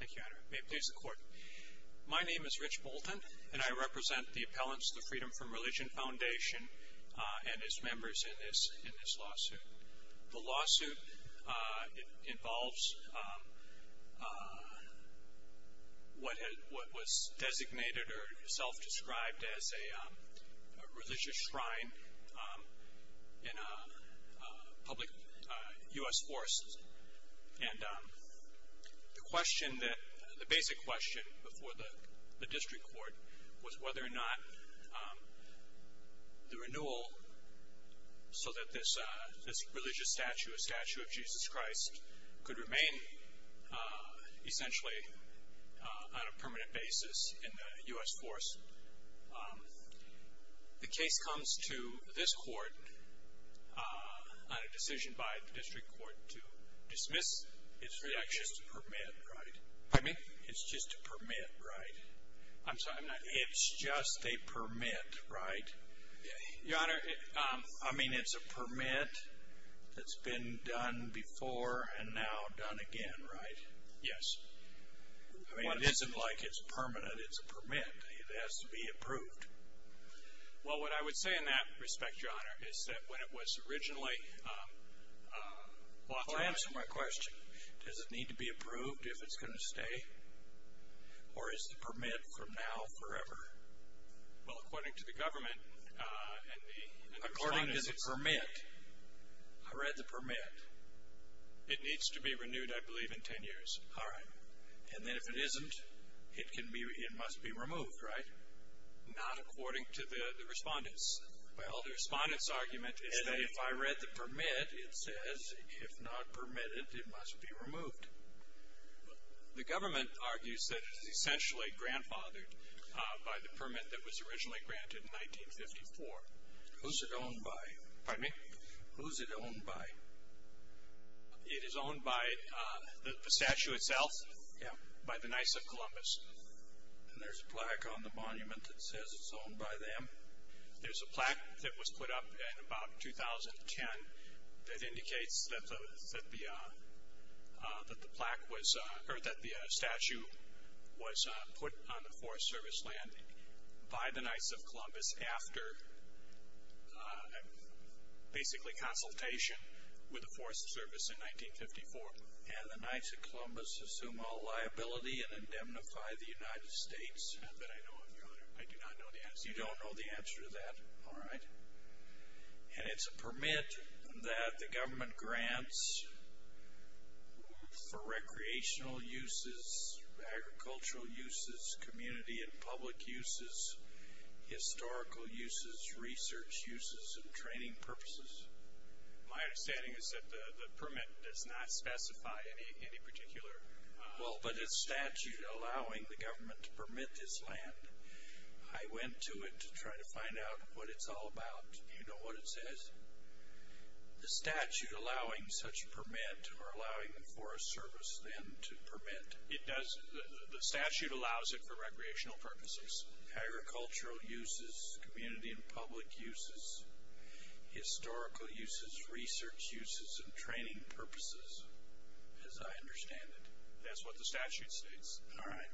Thank you, may it please the court. My name is Rich Bolton and I represent the appellants of the Freedom from Religion Foundation and as members in this lawsuit. The lawsuit involves what was designated or self-described as a question that the basic question before the district court was whether or not the renewal so that this religious statue, a statue of Jesus Christ, could remain essentially on a permanent basis in the US force. The case comes to this It's just a permit, right? I mean it's a permit that's been done before and now done again, right? Yes. I mean it isn't like it's permanent, it's a permit. It has to be approved. Well what I would say in that respect, Your Honor, is that when it was approved, if it's going to stay? Or is the permit from now forever? Well according to the government and the respondents... According to the permit? I read the permit. It needs to be renewed I believe in ten years. All right. And then if it isn't, it can be, it must be removed, right? Not according to the respondents. Well the respondents argument is that if I read the permit, it says if not permitted, it must be removed. The government argues that it is essentially grandfathered by the permit that was originally granted in 1954. Who's it owned by? Pardon me? Who's it owned by? It is owned by the statue itself? Yeah. By the Knights of Columbus. And there's a plaque on the monument that indicates that the plaque was, or that the statue was put on the Forest Service land by the Knights of Columbus after basically consultation with the Forest Service in 1954. And the Knights of Columbus assume all liability and indemnify the United States. I do not know the answer to that. You don't know the answer to that? All right. And it's a statute that the government grants for recreational uses, agricultural uses, community and public uses, historical uses, research uses, and training purposes. My understanding is that the permit does not specify any particular... Well, but it's statute allowing the government to permit this land. I went to it to try to find out what it's all about. Do you know what it says? The statute allowing such permit, or allowing the Forest Service then to permit. It does, the statute allows it for recreational purposes, agricultural uses, community and public uses, historical uses, research uses, and training purposes, as I understand it. That's what the statute states. All right.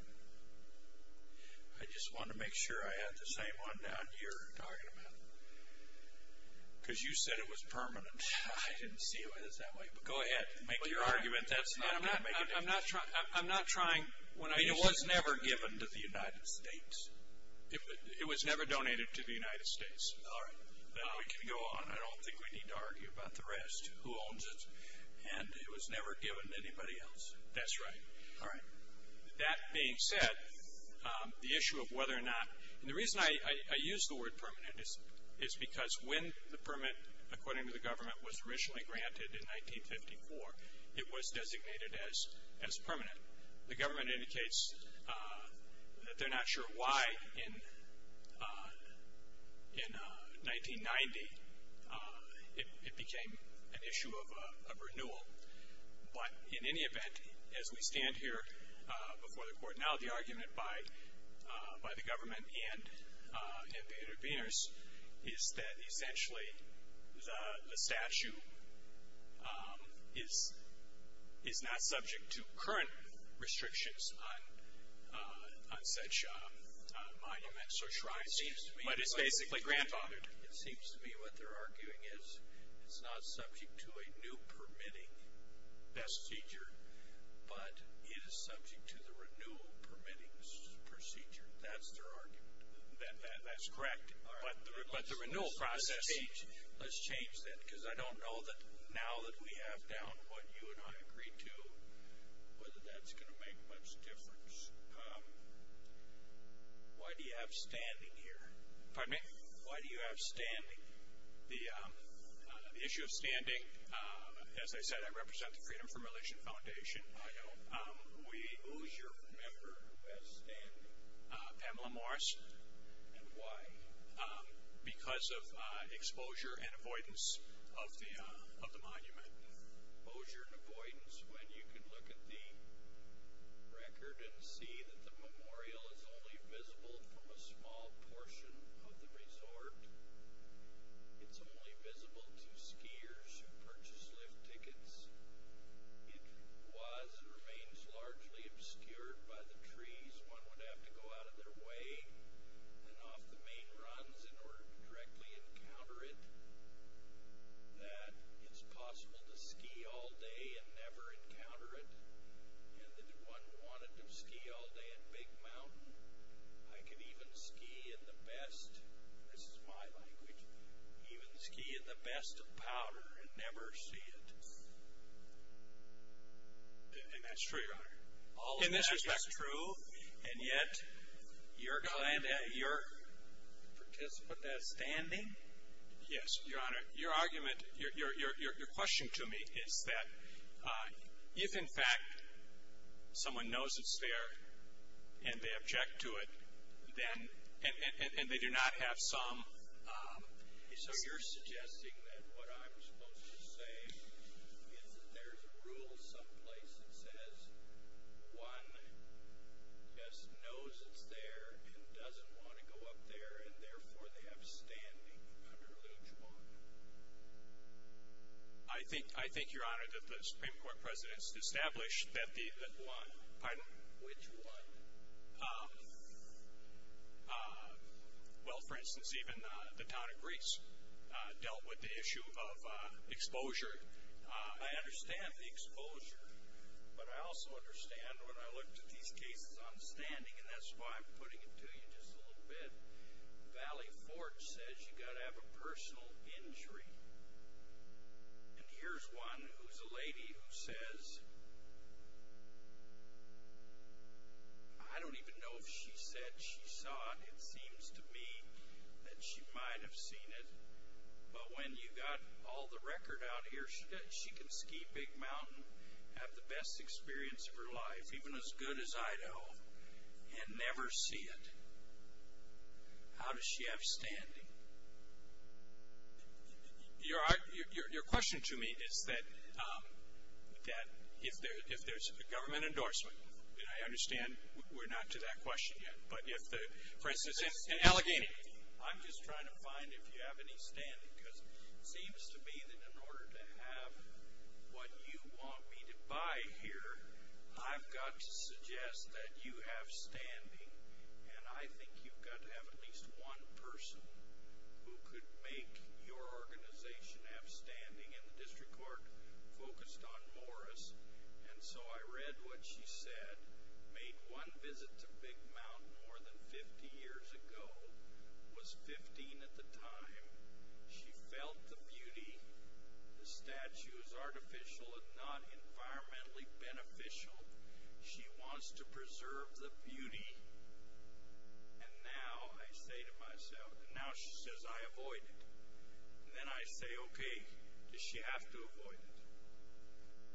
I just want to make sure I have the same one down here talking about. Because you said it was permanent. I didn't see it was that way. Go ahead, make your argument. That's not going to make a difference. I'm not trying... It was never given to the United States. It was never donated to the United States. All right. Then we can go on. I don't think we need to argue about the rest, who owns it. And it was never given to anybody else. That's right. All right. That being said, the issue of whether or not, and the reason I use the word permanent is because when the permit, according to the government, was originally granted in 1954, it was designated as permanent. The government indicates that they're not sure why in 1990 it became an issue of renewal. But in any event, as we stand here before the court, now the argument by the government and the interveners, is that essentially the statute is not subject to current restrictions on such monuments or shrines, but it's basically granted. It seems to me what they're arguing is it's not subject to a new permitting procedure, but it is subject to the renewal permitting procedure. That's their argument. That's correct. But the renewal process... Let's change that, because I don't know that now that we have down what you and I agreed to, whether that's going to make much difference. Why do you have standing here? Pardon me? Why do you have standing? The issue of standing, as I said, I represent the Freedom from Religious Foundation. I know. Who's your member who has standing? Pamela Morris. And why? Because of exposure and avoidance of the monument. I could even ski in the best, this is my language, even ski in the best of power and never see it. And that's true. All of that is true. And yet, your client, your participant that's standing. Yes, your honor. Your argument, your question to me is that if in fact someone knows it's there and they object to it, then, and they do not have some. So you're suggesting that what I'm supposed to say is that there's a rule someplace that says one just knows it's there and doesn't want to go up there and therefore they have standing under which one? I think, I think your honor that the Supreme Court presidents established that the one, pardon? Which one? Well, for instance, even the town of Greece dealt with the issue of exposure. I understand the exposure, but I also understand when I looked at these cases on standing and that's why I'm putting it to you just a little bit. Valley Fort says you got to have a personal injury. And here's one who's a lady who says, I don't even know if she said she saw it. It seems to me that she might have seen it. But when you got all the record out here, she can ski Big Mountain, have the best experience of her life, even as good as Idaho, and never see it. How does she have standing? Your question to me is that if there's a government endorsement, and I understand we're not to that question yet, but if the, for instance, in Allegheny. I'm just trying to find if you have any standing because it seems to me that in order to have what you want me to buy here, I've got to suggest that you have standing and I think you've got to have at least one person who could make your organization have standing. And the district court focused on Morris. And so I read what she said, made one visit to Big Mountain more than 50 years ago, was 15 at the time, she felt the beauty. The statue is artificial and not environmentally beneficial. She wants to preserve the beauty. And now I say to myself, and now she says I avoid it. And then I say, okay, does she have to avoid it?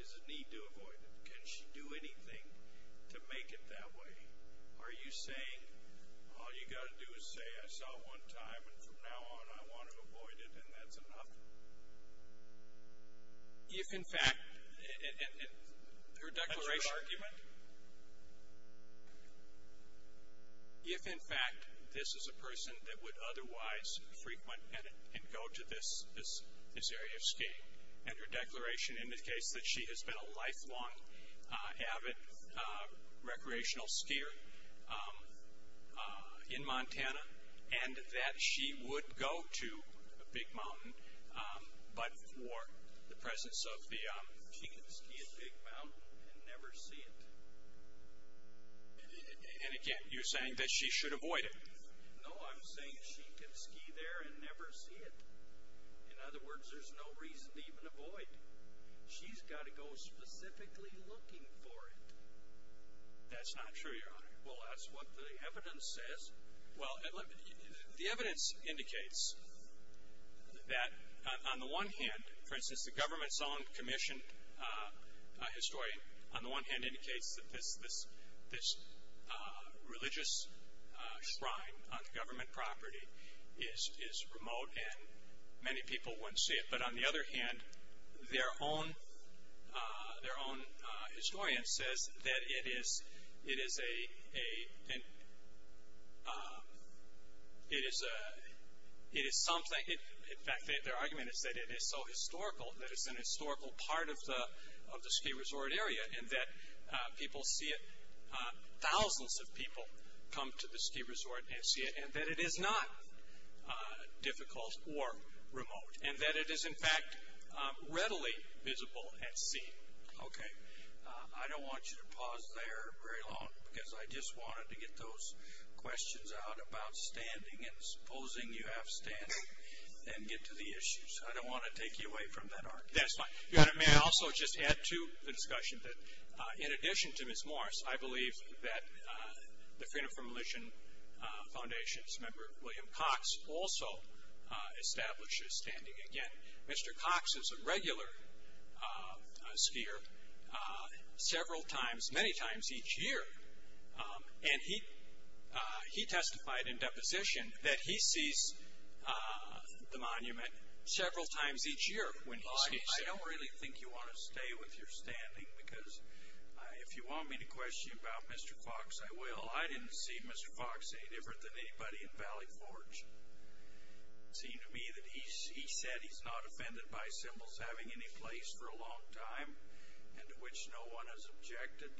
Does it need to avoid it? Can she do anything to make it that way? Are you saying all you got to do is say I saw it one time and from now on I want to avoid it and that's enough? If in fact, and her declaration, if in fact this is a person that would otherwise frequent and go to this area of skiing and her declaration indicates that she has been a lifelong avid recreational skier in Montana and that she would go to Big Mountain, but for the presence of the. She can ski at Big Mountain and never see it. And again, you're saying that she should avoid it. No, I'm saying she can ski there and never see it. In other words, there's no reason to even avoid it. She's got to go specifically looking for it. That's not true, Your Honor. Well, that's what the evidence says. Well, the evidence indicates that on the one hand, for instance, the government's own commissioned historian, on the one hand, indicates that this religious shrine on government property is remote and many people wouldn't see it. But on the other hand, their own historian says that it is a, it is a, it is something. In fact, their argument is that it is so historical, that it's an historical part of the ski resort area and that people see it. Thousands of people come to the ski resort and see it and that it is not difficult or remote and that it is, in fact, readily visible at sea, okay? I don't want you to pause there very long because I just wanted to get those questions out about standing and supposing you have standing and get to the issues. I don't want to take you away from that argument. That's fine. Your Honor, may I also just add to the discussion that in addition to Ms. Morris, I believe that the Freedom from Militia Foundation, member William Cox also establishes standing again. Mr. Cox is a regular skier several times, many times each year and he testified in deposition that he sees the monument several times each year when he skis. I don't really think you want to stay with your standing because if you want me to question about Mr. Cox, I will. I didn't see Mr. Cox any different than anybody in Valley Forge. It seemed to me that he said he's not offended by symbols having any place for a long time and to which no one has objected.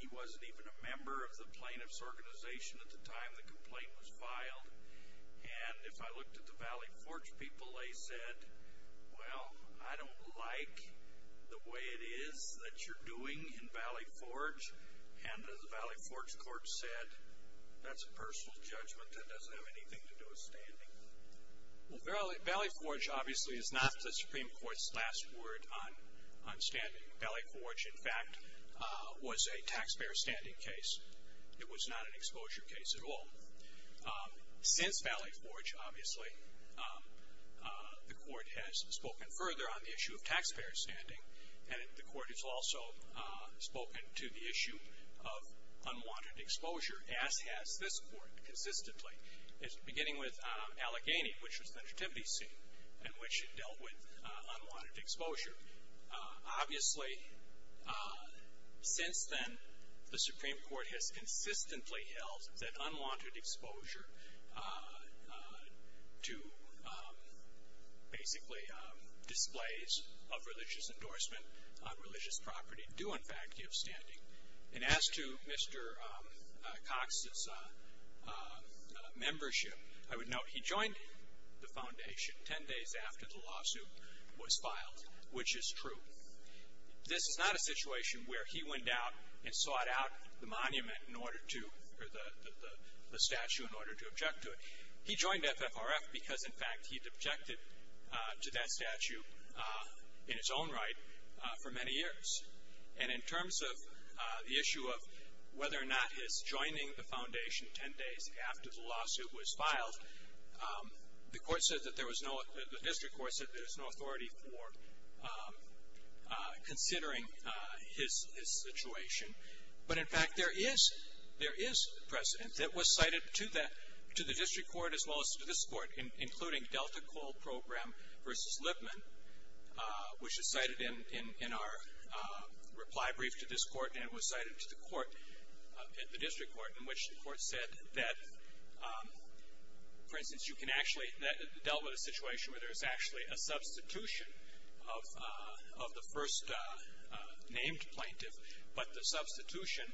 He wasn't even a member of the plaintiff's organization at the time the complaint was filed. And if I looked at the Valley Forge people, they said, well, I don't like the way it is that you're doing in Valley Forge and the Valley Forge court said that's a personal judgment that doesn't have anything to do with standing. Well, Valley Forge obviously is not the Supreme Court's last word on standing. Valley Forge, in fact, was a taxpayer standing case. It was not an exposure case at all. Since Valley Forge, obviously, the court has spoken further on the issue of taxpayer standing and the court has also spoken to the issue of unwanted exposure as has this court consistently. It's beginning with Allegheny, which was the nativity scene in which it dealt with unwanted exposure. Obviously, since then, the Supreme Court has consistently held that unwanted exposure to basically displays of religious endorsement on religious property do, in fact, give standing. And as to Mr. Cox's membership, I would note he joined the foundation ten days after the lawsuit was filed, which is true. This is not a situation where he went out and sought out the monument in order to, or the statue in order to object to it. He joined FFRF because, in fact, he'd objected to that statue in its own right for many years. And in terms of the issue of whether or not his joining the foundation ten days after the lawsuit was filed, the court said that there was no, the district court said there was no authority for considering his situation. But, in fact, there is precedent that was cited to the district court as well as to this court, including Delta Coal Program versus Lipman, which is cited in our reply brief to this court, and it was cited to the court, the district court, in which the court said that, for instance, you can actually, that dealt with a situation where there's actually a substitution of the first named plaintiff, but the substitution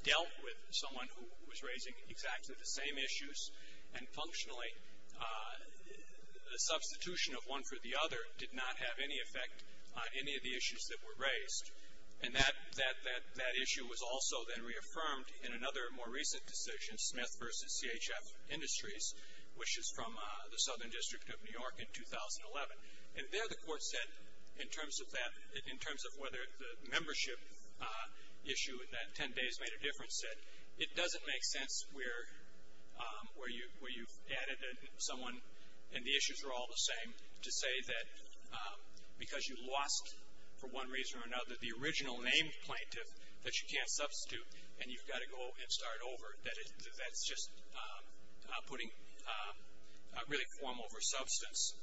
dealt with someone who was raising exactly the same issues, and functionally the substitution of one for the other did not have any effect on any of the issues that were raised. And that issue was also then reaffirmed in another more recent decision, Smith versus CHF Industries, which is from the Southern District of New York in 2011. And there the court said, in terms of that, in terms of whether the membership issue with that ten days made a difference, that it doesn't make sense where you've added someone, and the issues are all the same, to say that because you lost, for one reason or another, the original named plaintiff that you can't substitute and you've got to go and start over, that that's just putting, really form over substance.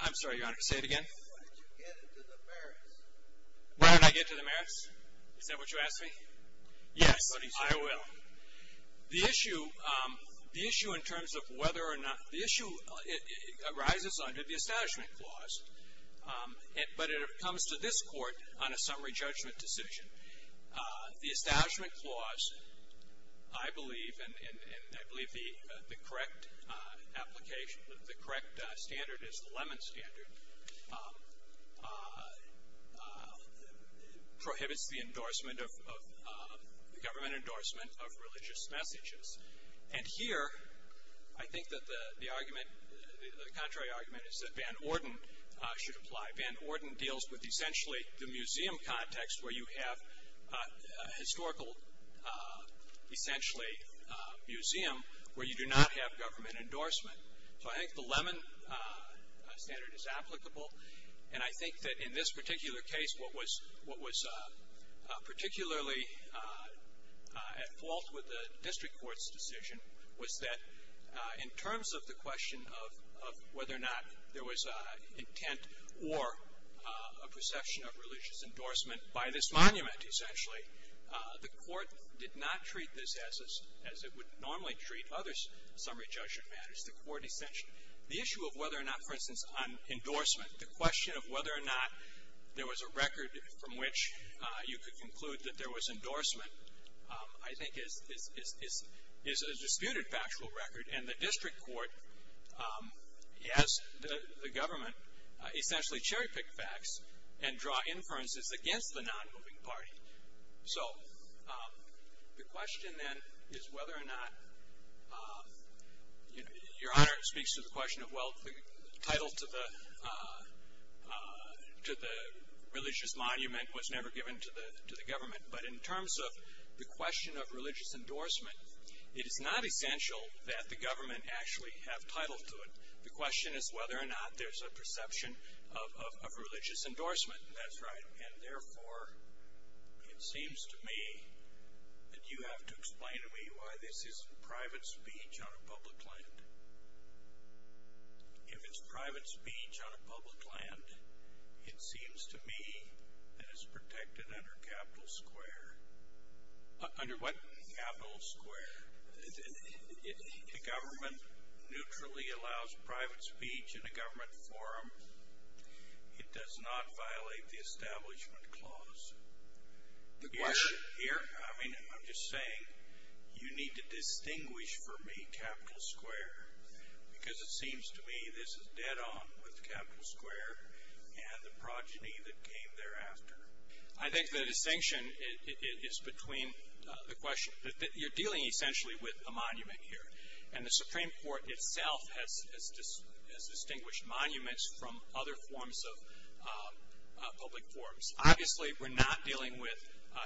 I'm sorry, Your Honor, say it again. Why did you get into the merits? Why did I get into the merits? Is that what you asked me? Yes, I will. The issue, the issue in terms of whether or not, the issue arises under the establishment clause, but it comes to this court on a summary judgment decision. The establishment clause, I believe, and I believe the correct application, the correct standard is the Lemon Standard, prohibits the endorsement of, the government endorsement of religious messages. And here, I think that the argument, the contrary argument is that Van Orden should apply. Van Orden deals with, essentially, the museum context where you have historical, essentially, museum, where you do not have government endorsement. So I think the Lemon Standard is applicable, and I think that in this particular case, what was particularly at fault with the district court's decision was that in terms of the question of whether or not there was intent or a perception of religious endorsement by this monument, essentially, the court did not treat this as it would normally treat other summary judgment matters. The court essentially, the issue of whether or not, for instance, on endorsement, the question of whether or not there was a record from which you could conclude that there was endorsement, I think, is a disputed factual record. And the district court has the government essentially cherry-pick facts and draw inferences against the non-moving party. So the question, then, is whether or not, you know, your honor speaks to the question of well, the title to the religious monument was never given to the government. But in terms of the question of religious endorsement, it is not essential that the government actually have title to it. The question is whether or not there's a perception of religious endorsement. That's right. And therefore, it seems to me that you have to explain to me why this isn't private speech on a public land. If it's private speech on a public land, it seems to me that it's protected under capital square. Under what capital square? If the government neutrally allows private speech in a government forum, it does not violate the establishment clause. The question? Here, I mean, I'm just saying you need to distinguish for me capital square. Because it seems to me this is dead on with capital square and the progeny that came thereafter. I think the distinction is between the question, you're dealing essentially with a monument here. And the Supreme Court itself has distinguished monuments from other forms of public forums. Obviously, we're not dealing with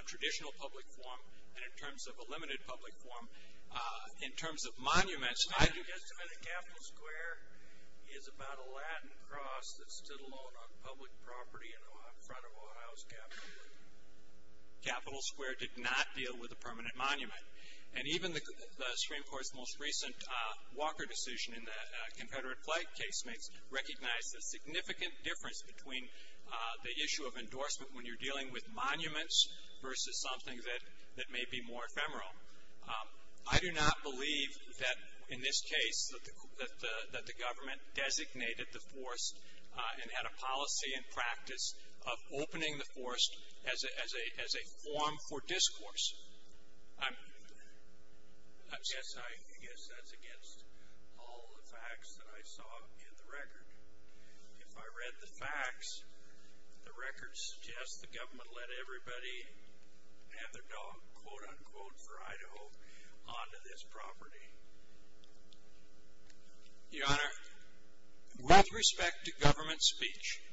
traditional public forum and in terms of a limited public forum. In terms of monuments, I do. And the capital square is about a Latin cross that stood alone on public property in front of Ohio's capital. Capital square did not deal with a permanent monument. And even the Supreme Court's most recent Walker decision in the Confederate flag case makes, recognized the significant difference between the issue of endorsement when you're dealing with monuments versus something that may be more ephemeral. I do not believe that in this case that the government designated the force and had a policy and practice of opening the force as a form for discourse. I'm, yes, I guess that's against all the facts that I saw in the record. If I read the facts, the records suggest the government let everybody have their dog, quote unquote, for Idaho onto this property. Your Honor, with respect to government speech.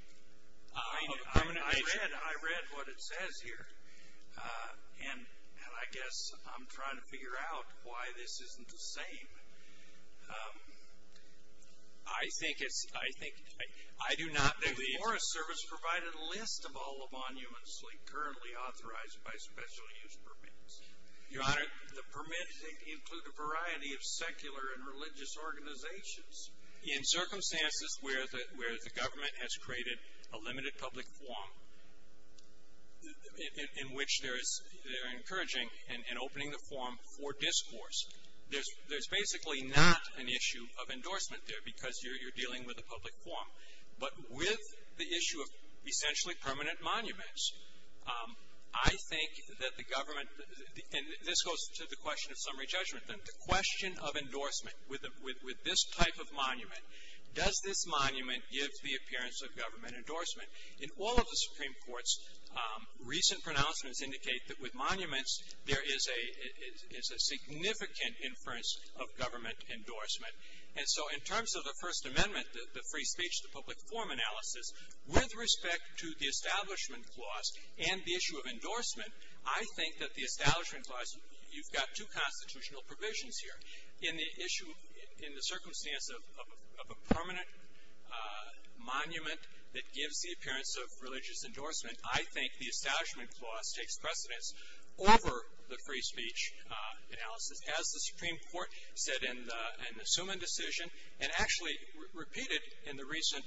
I read what it says here. And I guess I'm trying to figure out why this isn't the same. I think it's, I think, I do not believe. The Forest Service provided a list of all the monuments currently authorized by special use permits. Your Honor. The permits include a variety of secular and religious organizations. In circumstances where the government has created a limited public form in which they're encouraging and opening the form for discourse. There's basically not an issue of endorsement there because you're dealing with a public form. But with the issue of essentially permanent monuments, I think that the government, and this goes to the question of summary judgment. The question of endorsement with this type of monument. Does this monument give the appearance of government endorsement? In all of the Supreme Court's recent pronouncements indicate that with monuments there is a significant inference of government endorsement. And so in terms of the First Amendment, the free speech, the public form analysis, with respect to the establishment clause and the issue of endorsement, I think that the establishment clause, you've got two constitutional provisions here. In the issue, in the circumstance of a permanent monument that gives the appearance of religious endorsement, I think the establishment clause takes precedence over the free speech analysis. As the Supreme Court said in the Suman decision and actually repeated in the recent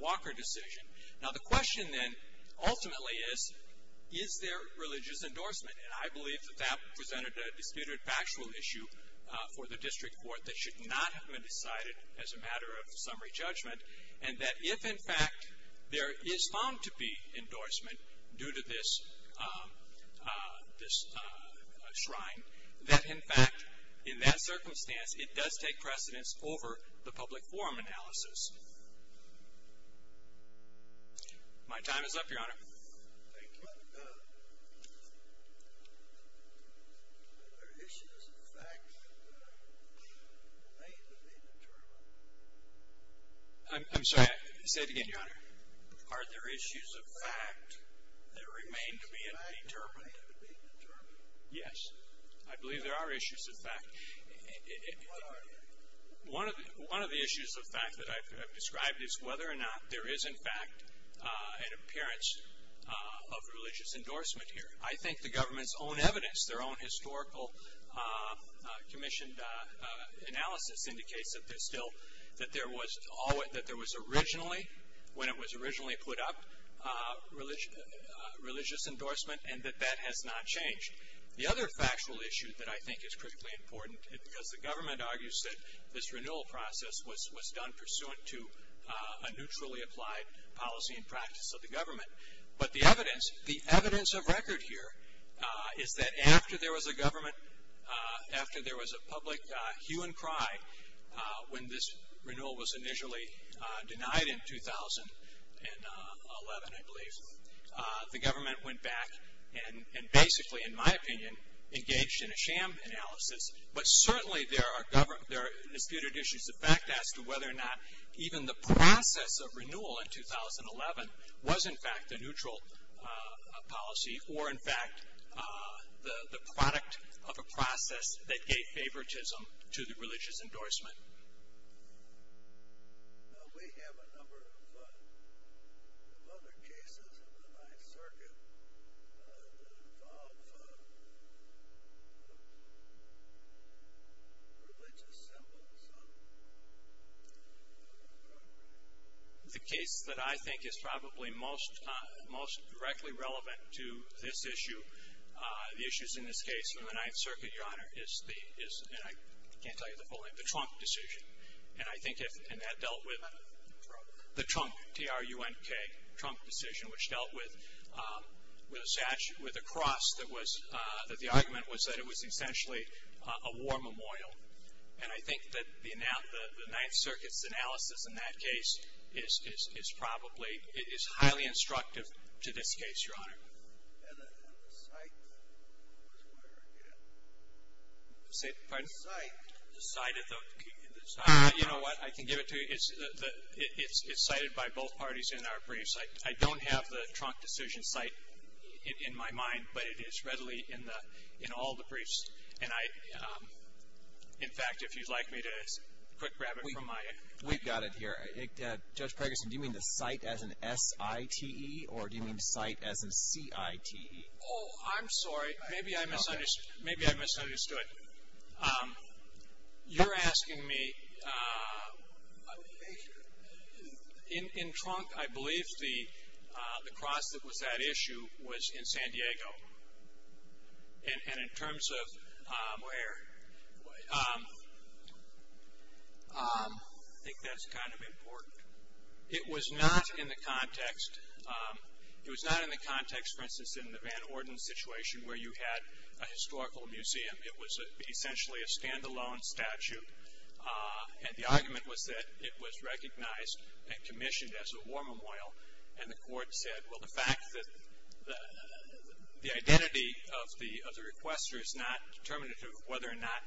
Walker decision. Now the question then ultimately is, is there religious endorsement? And I believe that that presented a disputed factual issue for the district court that should not have been decided as a matter of summary judgment. And that if in fact there is found to be endorsement due to this shrine, that in fact, in that circumstance, it does take precedence over the public form analysis. My time is up, Your Honor. Thank you. Are there issues of fact that remain to be determined? I'm sorry, say it again, Your Honor. Are there issues of fact that remain to be determined? Yes. I believe there are issues of fact. One of the issues of fact that I've described is whether or not there is in fact an appearance of religious endorsement here. I think the government's own evidence, their own historical commissioned analysis indicates that there's still, that there was originally, when it was originally put up, religious endorsement and that that has not changed. The other factual issue that I think is critically important is because the government argues that this renewal process was done pursuant to a neutrally applied policy and practice of the government. But the evidence, the evidence of record here is that after there was a government, after there was a public hue and cry when this renewal was initially denied in 2011, I believe, the government went back and basically, in my opinion, engaged in a sham analysis. But certainly there are disputed issues of fact as to whether or not even the process of renewal in 2011 was in fact a neutral policy or in fact the product of a process that gave favoritism to the religious endorsement. Now we have a number of other cases in the Ninth Circuit that involve religious symbols. The case that I think is probably most directly relevant to this issue, the issues in this case in the Ninth Circuit, Your Honor, is the, I can't tell you the full name, the Trump decision. And I think if, and that dealt with, the Trump, T-R-U-N-K, Trump decision which dealt with a cross that was, that the argument was that it was essentially a war memorial. And I think that the Ninth Circuit's analysis in that case is probably, it is highly instructive to this case, Your Honor. And the site was where, yeah? Say, pardon? The site. The site of the, you know what, I can give it to you, it's cited by both parties in our briefs. I don't have the Trump decision site in my mind, but it is readily in the, in all the briefs. And I, in fact, if you'd like me to quick grab it from my. We've got it here. Judge Pregerson, do you mean the site as in S-I-T-E, or do you mean the site as in C-I-T-E? Oh, I'm sorry. Maybe I misunderstood. You're asking me, in Trump, I believe the cross that was that issue was in San Diego. And in terms of where, I think that's kind of important. It was not in the context, it was not in the context, for instance, in the Van Orden situation where you had a historical museum. It was essentially a stand-alone statute. And the argument was that it was recognized and commissioned as a war memorial. And the court said, well, the fact that the identity of the requester is not determinative of whether or not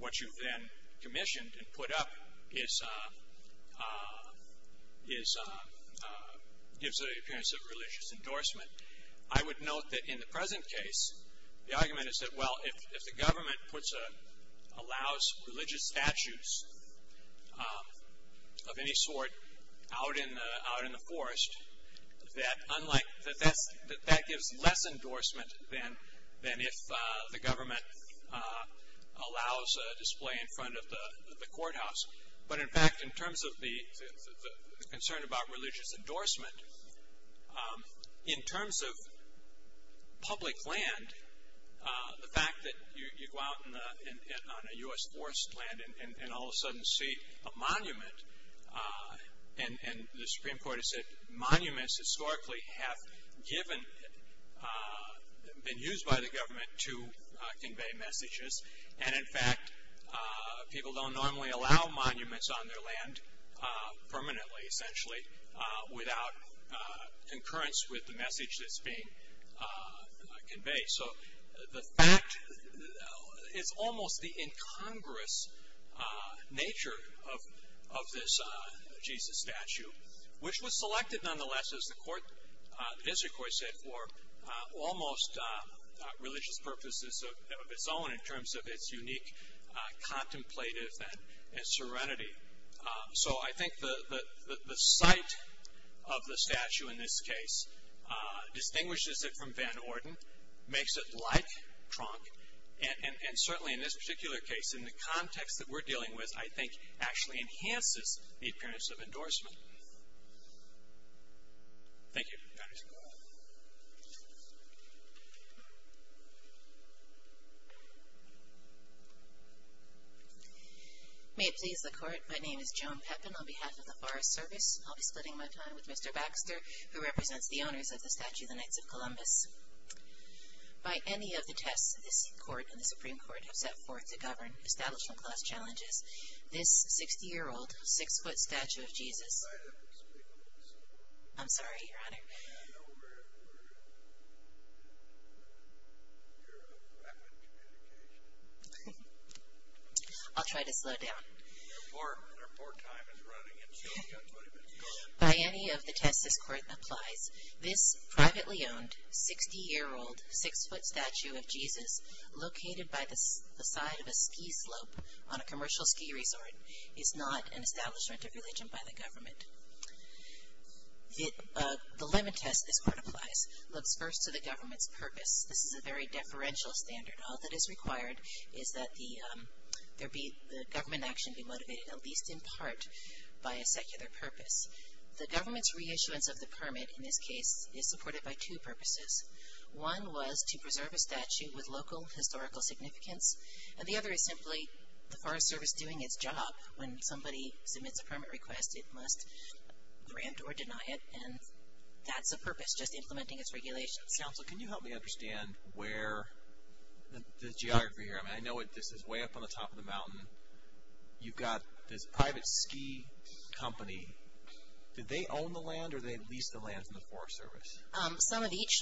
what you've then commissioned and put up is, gives it the appearance of a religious endorsement. I would note that in the present case, the argument is that, well, if the government puts a, allows religious statutes of any sort out in the forest, that unlike, that that gives less endorsement than if the government allows a display in front of the courthouse. But in fact, in terms of the concern about religious endorsement, in terms of public land, the fact that you go out on a U.S. forest land and all of a sudden see a monument, and the Supreme Court has said monuments historically have given, been used by the government to convey messages. And in fact, people don't normally allow monuments on their land permanently, essentially, without concurrence with the message that's being conveyed. So the fact, it's almost the incongruous nature of this Jesus statue, which was selected nonetheless, as the court, as the court said, for almost religious purposes of its own, in terms of its unique contemplative and serenity. So I think the site of the statue in this case distinguishes it from Van Orden, makes it like Tronk, and certainly in this particular case, in the context that we're dealing with, I think actually enhances the appearance of endorsement. Thank you. That is all. May it please the court, my name is Joan Pepin, on behalf of the Forest Service. I'll be splitting my time with Mr. Baxter, who represents the owners of the statue of the Knights of Columbus. By any of the tests this court and the Supreme Court have set forth to govern establishment class challenges, this 60-year-old, six-foot statue of Jesus. I'm sorry, your honor. I'll try to slow down. By any of the tests this court applies, this privately owned, 60-year-old, six-foot statue of Jesus, located by the side of a ski slope on a commercial ski resort, is not an establishment of religion by the government. The limit test this court applies looks first to the government's purpose. This is a very deferential standard. All that is required is that the government action be motivated at least in part by a secular purpose. The government's reissuance of the permit in this case is supported by two purposes. One was to preserve a statue with local historical significance, and the other is simply the Forest Service doing its job. When somebody submits a permit request, it must grant or deny it, and that's the purpose, just implementing its regulations. Counsel, can you help me understand where the geography here, I mean, I know this is way up on the top of the mountain. You've got this private ski company. Do they own the land, or do they lease the land from the Forest Service? Some of each.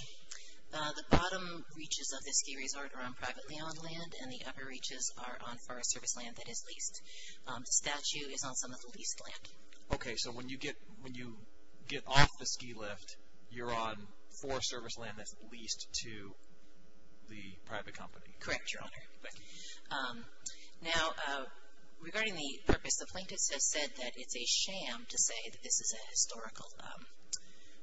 The bottom reaches of the ski resort are on privately owned land, and the upper reaches are on Forest Service land that is leased. The statue is on some of the leased land. Okay, so when you get off the ski lift, you're on Forest Service land that's leased to the private company. Correct, Your Honor. Thank you. Now, regarding the purpose, the plaintiffs have said that it's a sham to say that this is a historical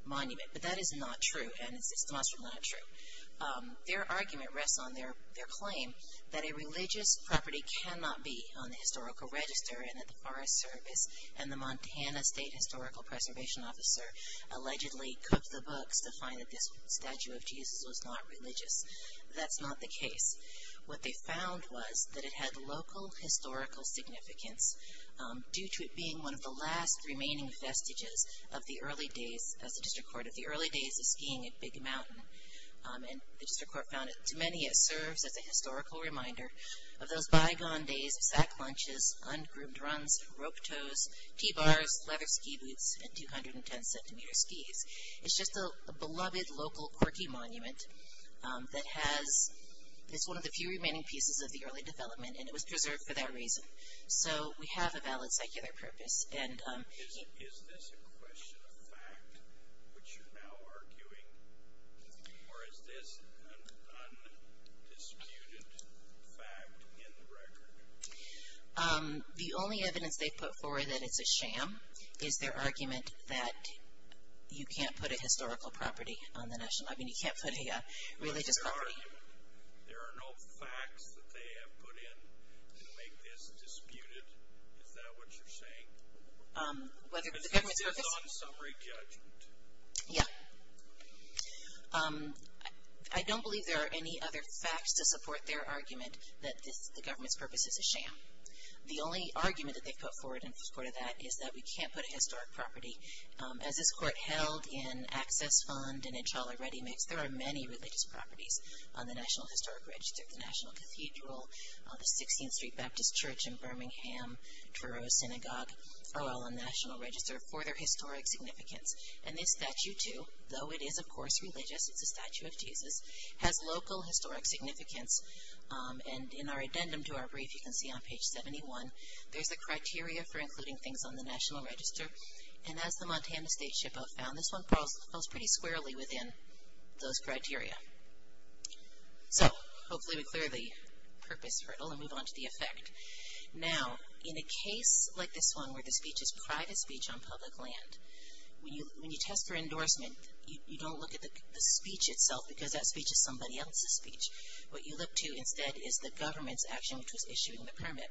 monument, but that is not true, and it's demonstrably not true. Their argument rests on their claim that a religious property cannot be on the historical register and at the Forest Service, and the Montana State Historical Preservation Officer allegedly cooked the books to find that this statue of Jesus was not religious. That's not the case. What they found was that it had local historical significance due to it being one of the last remaining vestiges of the early days, as the district court, of the early days of skiing at Big Mountain. And the district court found that to many, it serves as a historical reminder of those bygone days of sack lunches, ungroomed runs, rope toes, T-bars, leather ski boots, and 210-centimeter skis. It's just a beloved local quirky monument that has, it's one of the few remaining pieces of the early development, and it was preserved for that reason. So, we have a valid secular purpose. And. Is this a question of fact, which you're now arguing, or is this an undisputed fact in the record? The only evidence they've put forward that it's a sham is their argument that you can't put a historical property on the national, I mean you can't put a religious property. There are no facts that they have put in to make this disputed. Is that what you're saying? Whether the government's purpose. Yeah. I don't believe there are any other facts to support their argument that the government's purpose is a sham. The only argument that they've put forward in support of that is that we can't put a historic property. As this court held in Access Fund and in Choller Ready Mix, there are many religious properties on the National Historic Register, the National Cathedral, the 16th Street Baptist Church in Birmingham, Druro Synagogue, are all on the National Register for their historic significance. And this statue too, though it is of course religious, it's a statue of Jesus, has local historic significance and in our addendum to our brief, you can see on page 71, there's a criteria for including things on the National Register. And as the Montana State SHPO found, this one falls pretty squarely within those criteria. So, hopefully we clear the purpose hurdle and move on to the effect. Now, in a case like this one, where the speech is private speech on public land, when you test for endorsement, you don't look at the speech itself because that speech is somebody else's speech. What you look to instead is the government's action, which was issuing the permit.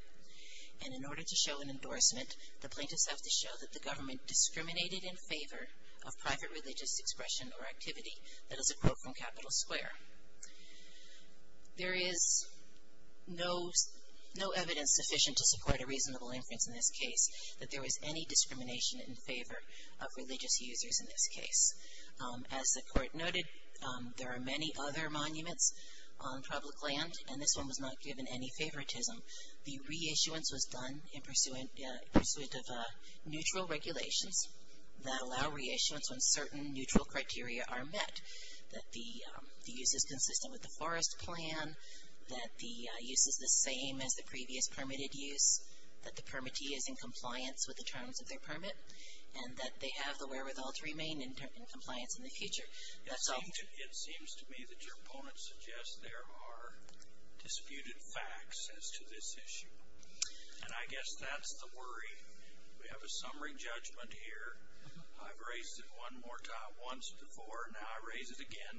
And in order to show an endorsement, the plaintiffs have to show that the government discriminated in favor of private religious expression or activity. That is a quote from Capitol Square. There is no evidence sufficient to support a reasonable inference in this case that there was any discrimination in favor of religious users in this case. As the court noted, there are many other monuments on public land and this one was not given any favoritism. The reissuance was done in pursuit of neutral regulations that allow reissuance when certain neutral criteria are met. That the use is consistent with the forest plan, that the use is the same as the previous permitted use, that the permittee is in compliance with the terms of their permit, and that they have the wherewithal to remain in compliance in the future. That's all. It seems to me that your opponent suggests there are disputed facts as to this issue. And I guess that's the worry. We have a summary judgment here. I've raised it one more time, once before, now I raise it again.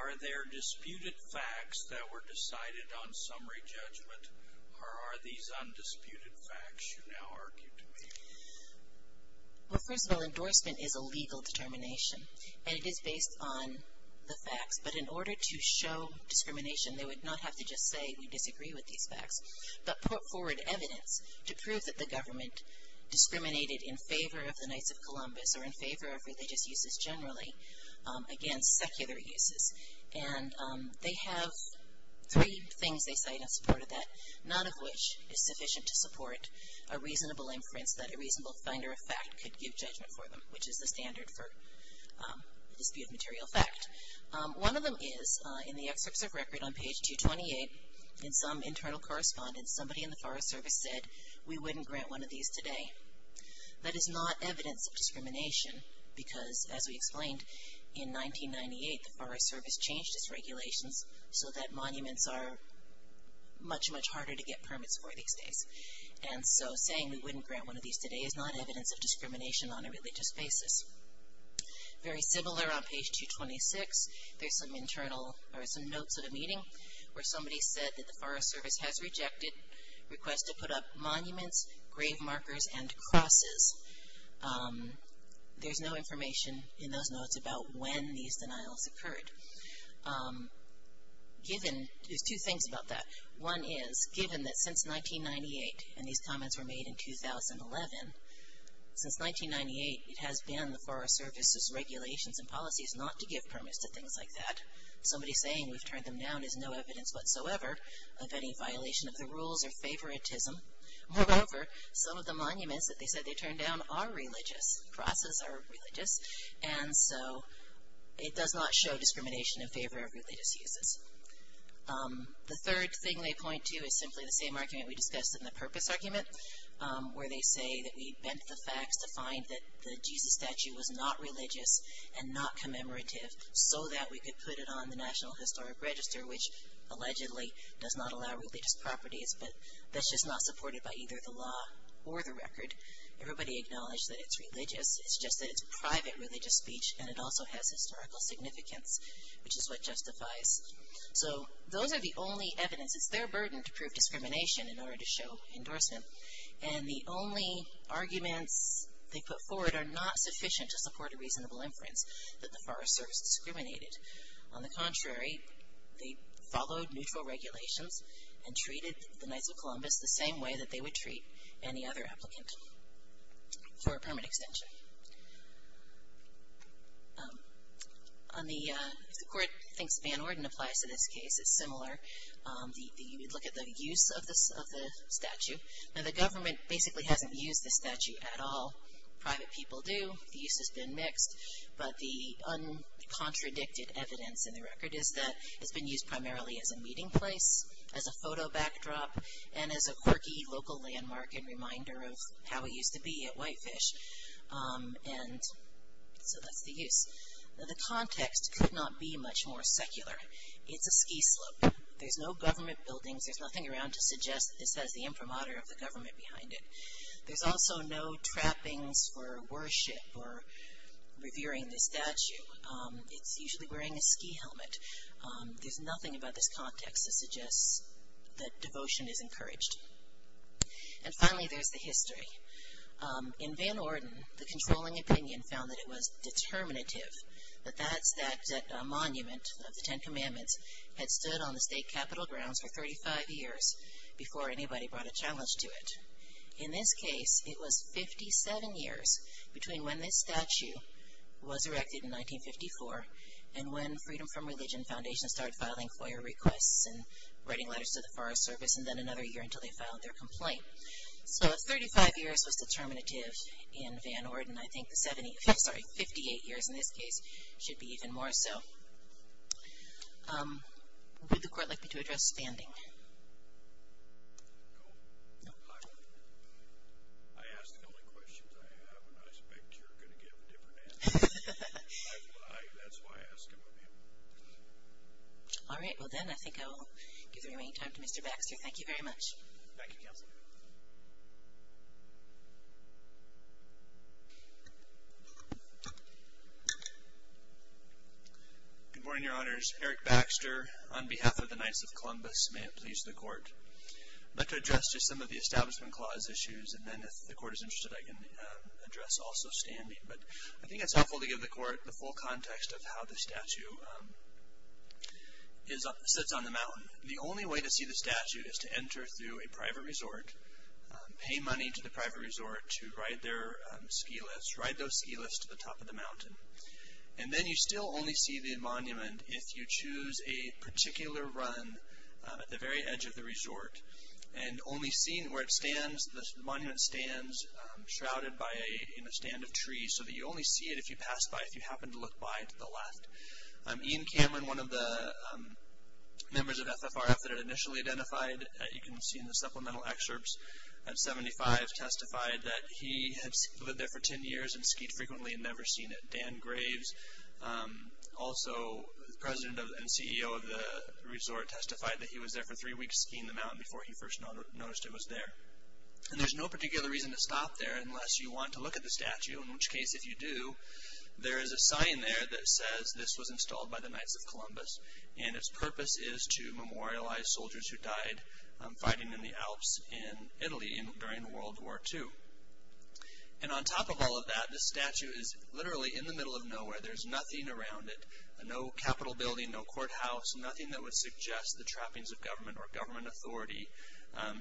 Are there disputed facts that were decided on summary judgment or are these undisputed facts you now argue to me? Well, first of all, endorsement is a legal determination and it is based on the facts. But in order to show discrimination, they would not have to just say we disagree with these facts, but put forward evidence to prove that the government discriminated in favor of the Knights of Columbus or in favor of religious uses generally against secular uses. And they have three things they cite in support of that, none of which is sufficient to support a reasonable inference that a reasonable finder of fact could give judgment for them, which is the standard for disputed material fact. One of them is in the excerpts of record on page 228, in some internal correspondence, somebody in the Forest Service said we wouldn't grant one of these today. That is not evidence of discrimination because, as we explained, in 1998, the Forest Service changed its regulations so that monuments are much, much harder to get permits for these days. And so, saying we wouldn't grant one of these today is not evidence of discrimination on a religious basis. Very similar on page 226, there's some internal, or some notes at a meeting where somebody said that the Forest Service has rejected requests to put up monuments, grave markers, and crosses. There's no information in those notes about when these denials occurred. Given, there's two things about that. One is, given that since 1998, and these comments were made in 2011, since 1998, it has been the Forest Service's regulations and policies not to give permits to things like that, somebody saying we've turned them down is no evidence whatsoever of any violation of the rules or favoritism. Moreover, some of the monuments that they said they turned down are religious. Crosses are religious. And so, it does not show discrimination in favor of religious uses. The third thing they point to is simply the same argument we discussed in the purpose argument, where they say that we bent the facts to find that the Jesus statue was not religious and not commemorative, so that we could put it on the National Historic Register, which allegedly does not allow religious properties, but that's just not supported by either the law or the record. Everybody acknowledged that it's religious. It's just that it's private religious speech, and it also has historical significance, which is what justifies. So, those are the only evidence. It's their burden to prove discrimination in order to show endorsement. And the only arguments they put forward are not sufficient to support a reasonable inference that the Forest Service discriminated. On the contrary, they followed neutral regulations and treated the Knights of Columbus the same way that they would treat any other applicant for a permit extension. On the, if the court thinks Van Orden applies to this case, it's similar. You would look at the use of the statue. Now, the government basically hasn't used the statue at all. Private people do. The use has been mixed, but the uncontradicted evidence in the record is that it's been used primarily as a meeting place, as a photo backdrop, and as a quirky local landmark and reminder of how it used to be at Whitefish. And so, that's the use. Now, the context could not be much more secular. It's a ski slope. There's no government buildings. There's nothing around to suggest that this has the imprimatur of the government behind it. There's also no trappings for worship or revering the statue. It's usually wearing a ski helmet. There's nothing about this context that suggests that devotion is encouraged. And finally, there's the history. In Van Orden, the controlling opinion found that it was determinative, that that monument of the Ten Commandments had stood on the state capitol grounds for 35 years before anybody brought a challenge to it. In this case, it was 57 years between when this statue was erected in 1954 and when Freedom from Religion Foundation started filing FOIA requests and writing letters to the Forest Service and then another year until they filed their complaint. So, 35 years was determinative in Van Orden. I think the 70, sorry, 58 years in this case should be even more so. Would the court like me to address standing? No? No. I ask the only questions I have, and I expect you're going to give a different answer. That's why I ask about him. All right. Well, then I think I'll give the remaining time to Mr. Baxter. Thank you very much. Thank you, Counselor. Good morning, Your Honors. Eric Baxter on behalf of the Knights of Columbus. May it please the court. I'd like to address just some of the Establishment Clause issues, and then if the court is interested, I can address also standing. But I think it's helpful to give the court the full context of how the statue sits on the mountain. The only way to see the statue is to enter through a private resort, pay money to the private resort to ride their ski lifts, ride those ski lifts to the top of the mountain. And then you still only see the monument if you choose a particular run at the very edge of the resort, and only seeing where it stands, the monument stands shrouded by a, in a stand of trees, so that you only see it if you pass by, if you happen to look by to the left. Ian Cameron, one of the members of FFRF that had initially identified, you can see in the supplemental excerpts, at 75 testified that he had lived there for 10 years and skied frequently and never seen it. Dan Graves, also President and CEO of the resort, testified that he was there for three weeks skiing the mountain before he first noticed it was there. And there's no particular reason to stop there unless you want to look at the statue, in which case if you do, there is a sign there that says this was installed by the Knights of Columbus, and its purpose is to memorialize soldiers who died fighting in the Alps in Italy during World War II. And on top of all of that, this statue is literally in the middle of nowhere. There's nothing around it, no capital building, no courthouse, nothing that would suggest the trappings of government or government authority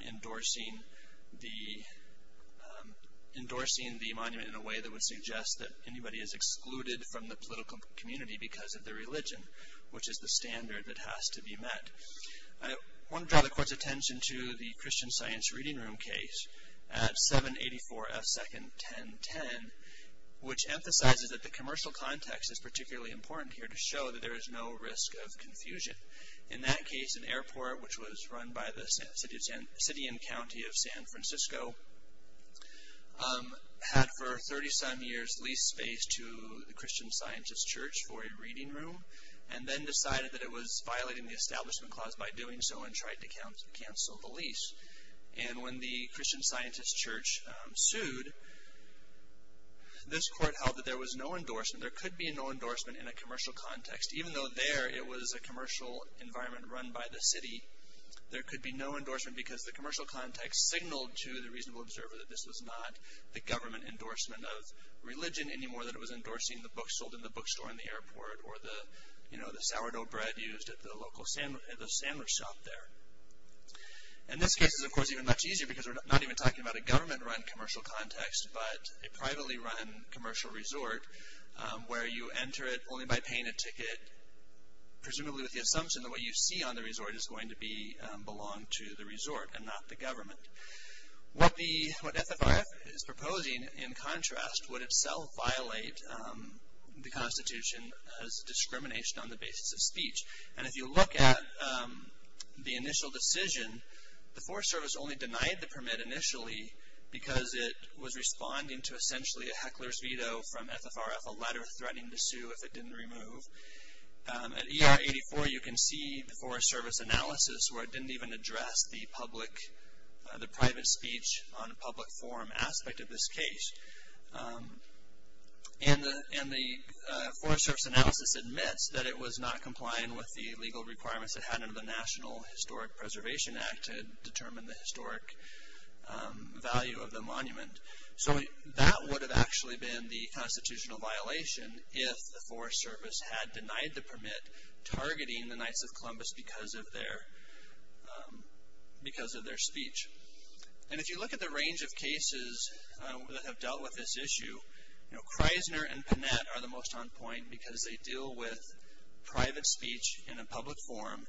endorsing the, endorsing the monument in a way that would suggest that anybody is excluded from the political community because of their religion, which is the standard that has to be met. I want to draw the court's attention to the Christian Science Reading Room case at 784F2nd1010, which emphasizes that the commercial context is particularly important here to show that there is no risk of confusion. In that case, an airport, which was run by the city and county of San Francisco, had for 30-some years leased space to the Christian Scientist Church for a reading room and then decided that it was violating the establishment clause by doing so and tried to cancel the lease. And when the Christian Scientist Church sued, this court held that there was no endorsement. There could be no endorsement in a commercial context, even though there it was a commercial environment run by the city. There could be no endorsement because the commercial context signaled to the reasonable observer that this was not the government endorsement of religion anymore than it was endorsing the books sold in the bookstore in the airport or the, you know, the sourdough bread used at the local sandwich shop there. And this case is, of course, even much easier because we're not even talking about a government run commercial context, but a privately run commercial resort where you enter it only by paying a ticket, presumably with the assumption that what you see on the resort is going to be, belong to the resort and not the government. What the, what FFRF is proposing, in contrast, would itself violate the Constitution as discrimination on the basis of speech. And if you look at the initial decision, the Forest Service only denied the permit initially because it was responding to essentially a heckler's veto from FFRF, a letter threatening to sue if it didn't remove. At ER 84, you can see the Forest Service analysis where it didn't even address the public, the private speech on public forum aspect of this case. And the, and the Forest Service analysis admits that it was not complying with the legal requirements it had under the National Historic Preservation Act to determine the historic value of the monument. So that would have actually been the constitutional violation if the Forest Service had denied the permit targeting the Knights of Columbus because of their, because of their speech. And if you look at the range of cases that have dealt with this issue, you know, Kreisner and Panet are the most on point because they deal with private speech in a public forum.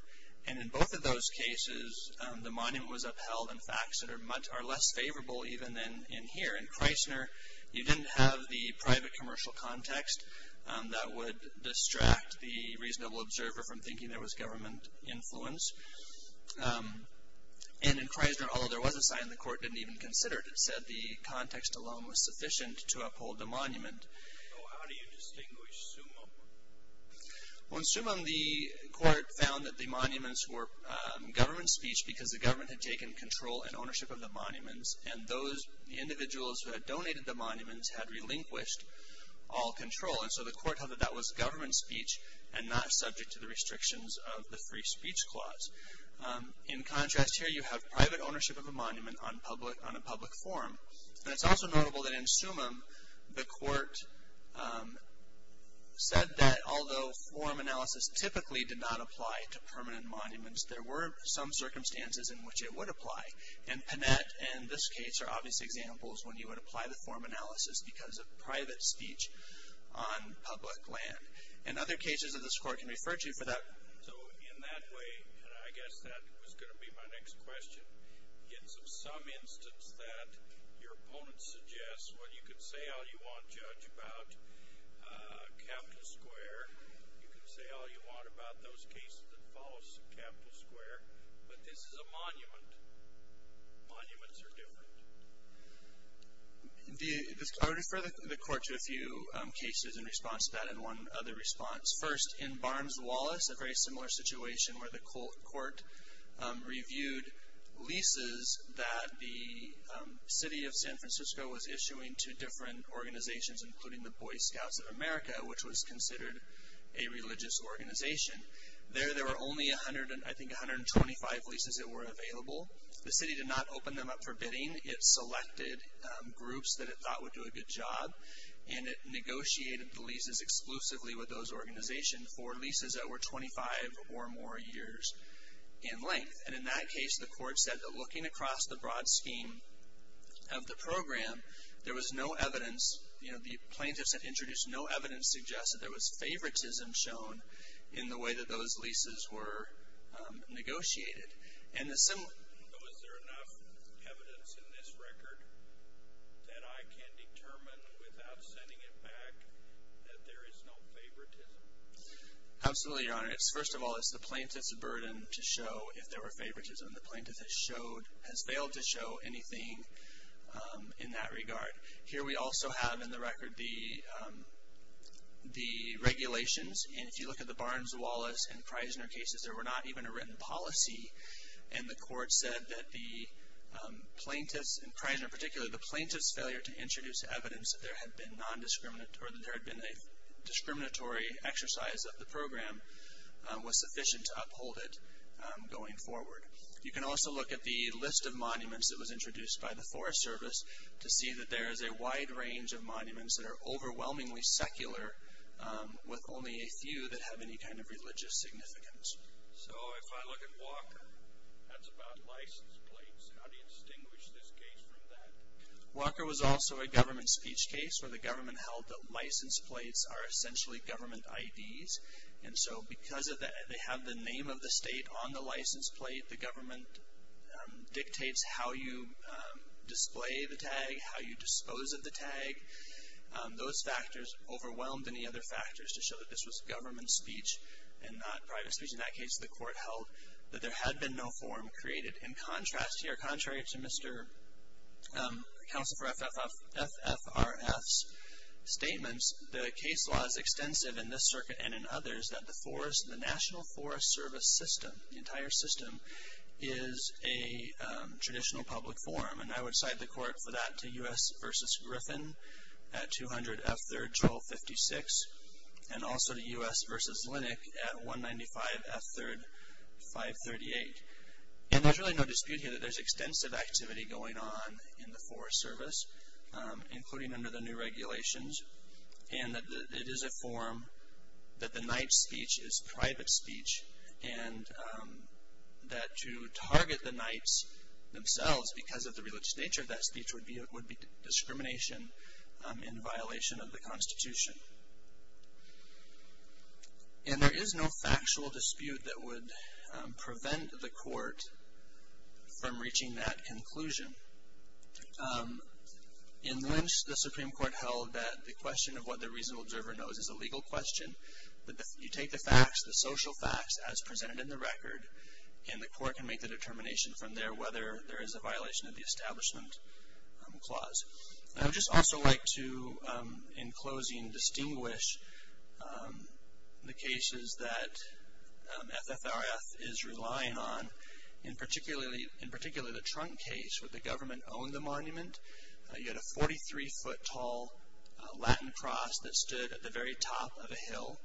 And in both of those cases, the monument was upheld in facts that are less favorable even than in here. In Kreisner, you didn't have the private commercial context that would distract the reasonable observer from thinking there was government influence. And in Kreisner, although there was a sign, the court didn't even consider it. So how do you distinguish Sumum? Well, in Sumum, the court found that the monuments were government speech because the government had taken control and ownership of the monuments. And those individuals who had donated the monuments had relinquished all control. And so the court held that that was government speech and not subject to the restrictions of the free speech clause. In contrast here, you have private ownership of a monument on public, on a public forum. And it's also notable that in Sumum, the court said that although forum analysis typically did not apply to permanent monuments, there were some circumstances in which it would apply. And Panet, in this case, are obvious examples when you would apply the forum analysis because of private speech on public land. And other cases that this court can refer to for that. So in that way, and I guess that was going to be my next question, in some instance that your opponent suggests, well, you can say all you want, Judge, about Capitol Square. You can say all you want about those cases that follow Capitol Square. But this is a monument. Monuments are different. I would refer the court to a few cases in response to that and one other response. First, in Barnes-Wallace, a very similar situation where the court reviewed leases that the city of San Francisco was issuing to different organizations, including the Boy Scouts of America, which was considered a religious organization. There, there were only 100, I think 125 leases that were available. The city did not open them up for bidding. It selected groups that it thought would do a good job. And it negotiated the leases exclusively with those organizations for leases that were 25 or more years in length. And in that case, the court said that looking across the broad scheme of the program, there was no evidence, you know, the plaintiffs had introduced no evidence to suggest that there was favoritism shown in the way that those leases were negotiated. And the similar. Was there enough evidence in this record that I can determine without sending it back that there is no favoritism? Absolutely, Your Honor. It's, first of all, it's the plaintiff's burden to show if there were favoritism. The plaintiff has showed, has failed to show anything in that regard. Here we also have in the record the, the regulations and if you look at the Barnes-Wallace and Preissner cases, there were not even a written policy. And the court said that the plaintiff's, in Preissner in particular, the plaintiff's failure to introduce evidence that there had been non-discriminatory, or that there had been a discriminatory exercise of the program was sufficient to uphold it going forward. You can also look at the list of monuments that was introduced by the Forest Service to see that there is a wide range of monuments that are overwhelmingly secular with only a few that have any kind of religious significance. So if I look at Walker, that's about license plates. How do you distinguish this case from that? Walker was also a government speech case where the government held that license plates are essentially government IDs. And so because of that, they have the name of the state on the license plate. The government dictates how you display the tag, how you dispose of the tag. Those factors overwhelmed any other factors to show that this was government speech and not private speech. In that case, the court held that there had been no form created. In contrast here, contrary to Mr. Counsel for FFRF's statements, the case law is extensive in this circuit and in others that the forest, the National Forest Service system, the entire system, is a traditional public forum. And I would cite the court for that to U.S. versus Griffin at 200 F3rd Joel 56 and also to U.S. versus Linnick at 195 F3rd 538. And there's really no dispute here that there's extensive activity going on in the Forest Service, including under the new regulations, and that it is a forum that the knight's speech is private speech and that to target the knights themselves because of the religious nature of that speech would be discrimination and violation of the Constitution. And there is no factual dispute that would prevent the court from reaching that conclusion. In Lynch, the Supreme Court held that the question of what the reasonable observer knows is a legal question. But if you take the facts, the social facts as presented in the record, and the court can make the determination from there whether there is a violation of the establishment clause. I would just also like to, in closing, distinguish the cases that FFRF is relying on, in particular the trunk case where the government owned the monument. You had a 43-foot tall Latin cross that stood at the very top of a hill,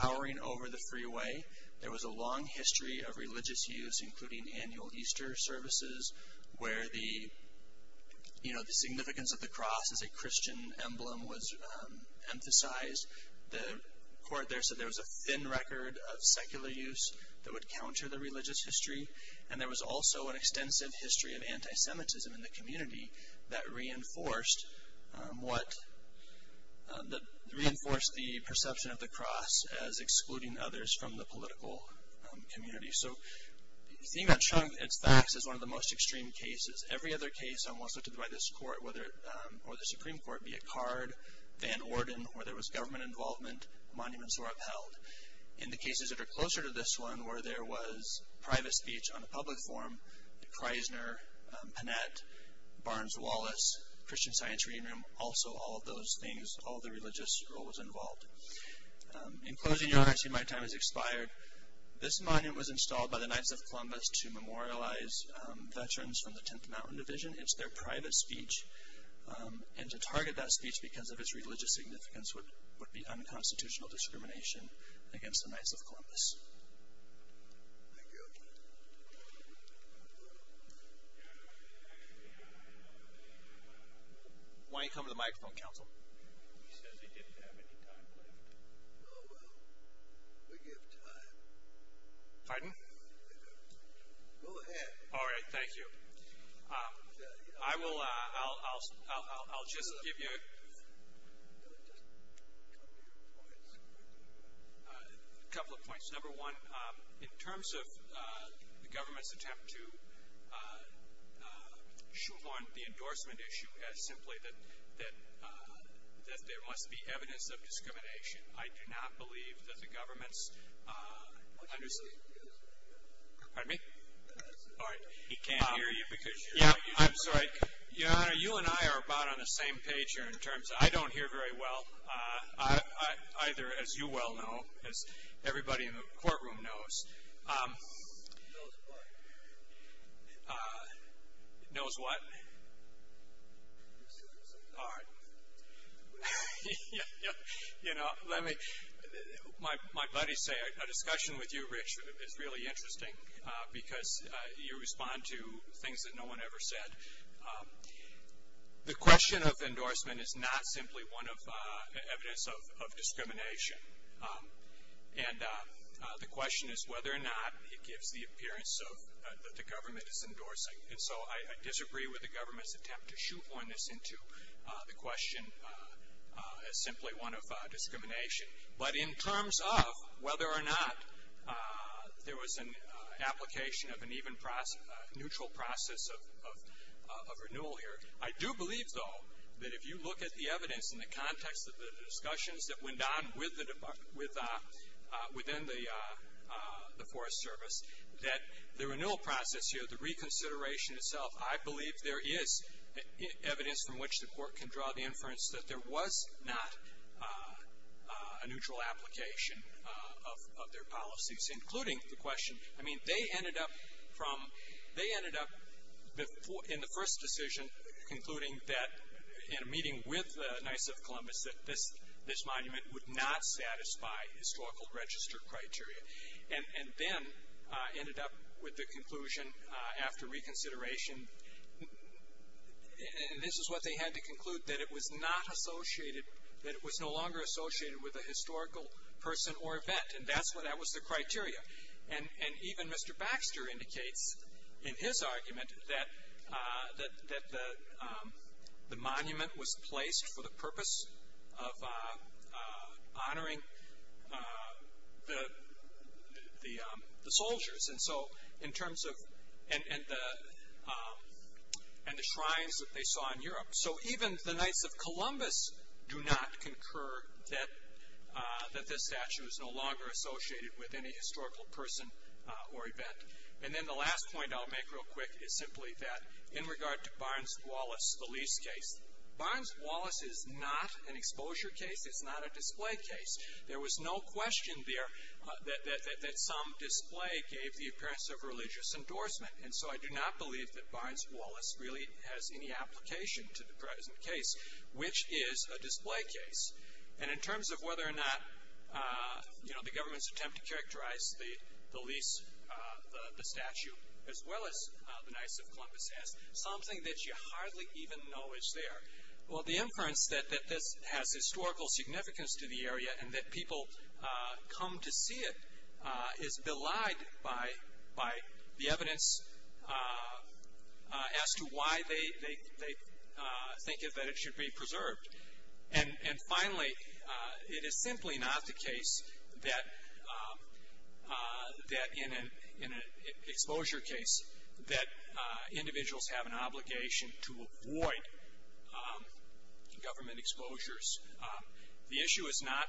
towering over the freeway. There was a long history of religious use, including annual Easter services, where the significance of the cross as a Christian emblem was emphasized. The court there said there was a thin record of secular use that would counter the religious history. And there was also an extensive history of anti-Semitism in the community that reinforced the perception of the cross as excluding others from the political community. So seeing that trunk, its facts, is one of the most extreme cases. Every other case almost looked at by this court, or the Supreme Court, be it Card, Van Orden, where there was government involvement, monuments were upheld. In the cases that are closer to this one, where there was private speech on a public forum, the Kreisner, Panet, Barnes-Wallace, Christian Science Reading Room, also all of those things, all the religious role was involved. In closing, Your Honor, I see my time has expired. This monument was installed by the Knights of Columbus to memorialize veterans from the 10th Mountain Division. It's their private speech. And to target that speech because of its religious significance would be unconstitutional discrimination against the Knights of Columbus. Why don't you come to the microphone, counsel? He says he didn't have any time left. Oh, well. We give time. Pardon? Go ahead. All right. Thank you. I will, I'll, I'll, I'll, I'll just give you a couple of points. A couple of points. Number one, in terms of the government's attempt to shoot on the endorsement issue as simply that, that, that there must be evidence of discrimination. I do not believe that the government's understand. Pardon me? All right. He can't hear you because you're not using the microphone. Yeah, I'm sorry. Your Honor, you and I are about on the same page here in terms, I don't hear very well. Either, as you well know, as everybody in the courtroom knows. Knows what? Knows what? All right. You know, let me, my buddies say a discussion with you, Rich, is really interesting because you respond to things that no one ever said. The question of endorsement is not simply one of evidence of discrimination. And the question is whether or not it gives the appearance that the government is endorsing. And so I disagree with the government's attempt to shoot on this into the question as simply one of discrimination. But in terms of whether or not there was an application of an even neutral process of renewal here. I do believe, though, that if you look at the evidence in the context of the discussions that went on within the Forest Service, that the renewal process here, the reconsideration itself, I believe there is evidence from which the court can draw the inference that there was not a neutral application of their policies. Including the question, I mean, they ended up from, they ended up in the first decision concluding that in a meeting with the Knights of Columbus that this monument would not satisfy historical register criteria. And then ended up with the conclusion after reconsideration, and this is what they had to conclude, that it was not associated, that it was no longer associated with a historical person or event. And that's what, that was the criteria. And even Mr. Baxter indicates in his argument that the monument was placed for the purpose of honoring the soldiers. And so in terms of, and the shrines that they saw in Europe. So even the Knights of Columbus do not concur that this statue is no longer associated with any historical person or event. And then the last point I'll make real quick is simply that in regard to Barnes-Wallace police case, Barnes-Wallace is not an exposure case. It's not a display case. There was no question there that some display gave the appearance of religious endorsement. And so I do not believe that Barnes-Wallace really has any application to the present case, which is a display case. And in terms of whether or not, you know, the government's attempt to characterize the lease, the statue, as well as the Knights of Columbus as something that you hardly even know is there. Well, the inference that this has historical significance to the area and that people come to see it is belied by the evidence as to why they think that it should be preserved. And finally, it is simply not the case that in an exposure case that individuals have an obligation to avoid government exposures. The issue is not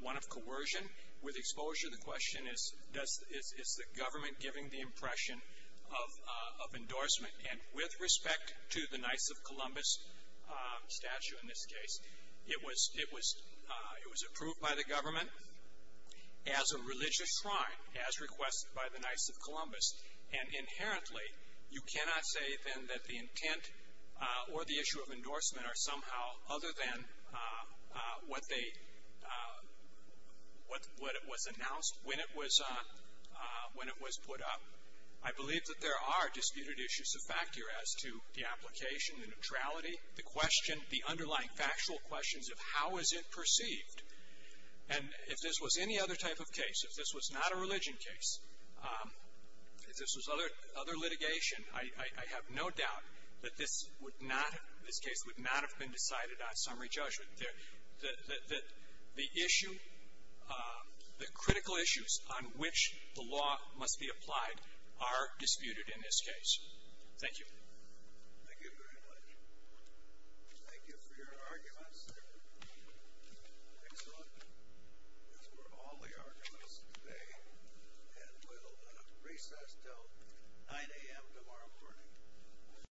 one of coercion with exposure. The question is, is the government giving the impression of endorsement? And with respect to the Knights of Columbus statue in this case, it was approved by the government as a religious shrine, as requested by the Knights of Columbus. And inherently, you cannot say then that the intent or the issue of endorsement are somehow other than what was announced when it was put up. I believe that there are disputed issues of factor as to the application, the neutrality, the underlying factual questions of how is it perceived. And if this was any other type of case, if this was not a religion case, if this was other litigation, I have no doubt that this case would not have been decided on summary judgment. The issue, the critical issues on which the law must be applied are disputed in this case. Thank you. Thank you very much. Thank you for your arguments. Excellent. That's all the arguments today. And we'll recess until 9 a.m. tomorrow morning.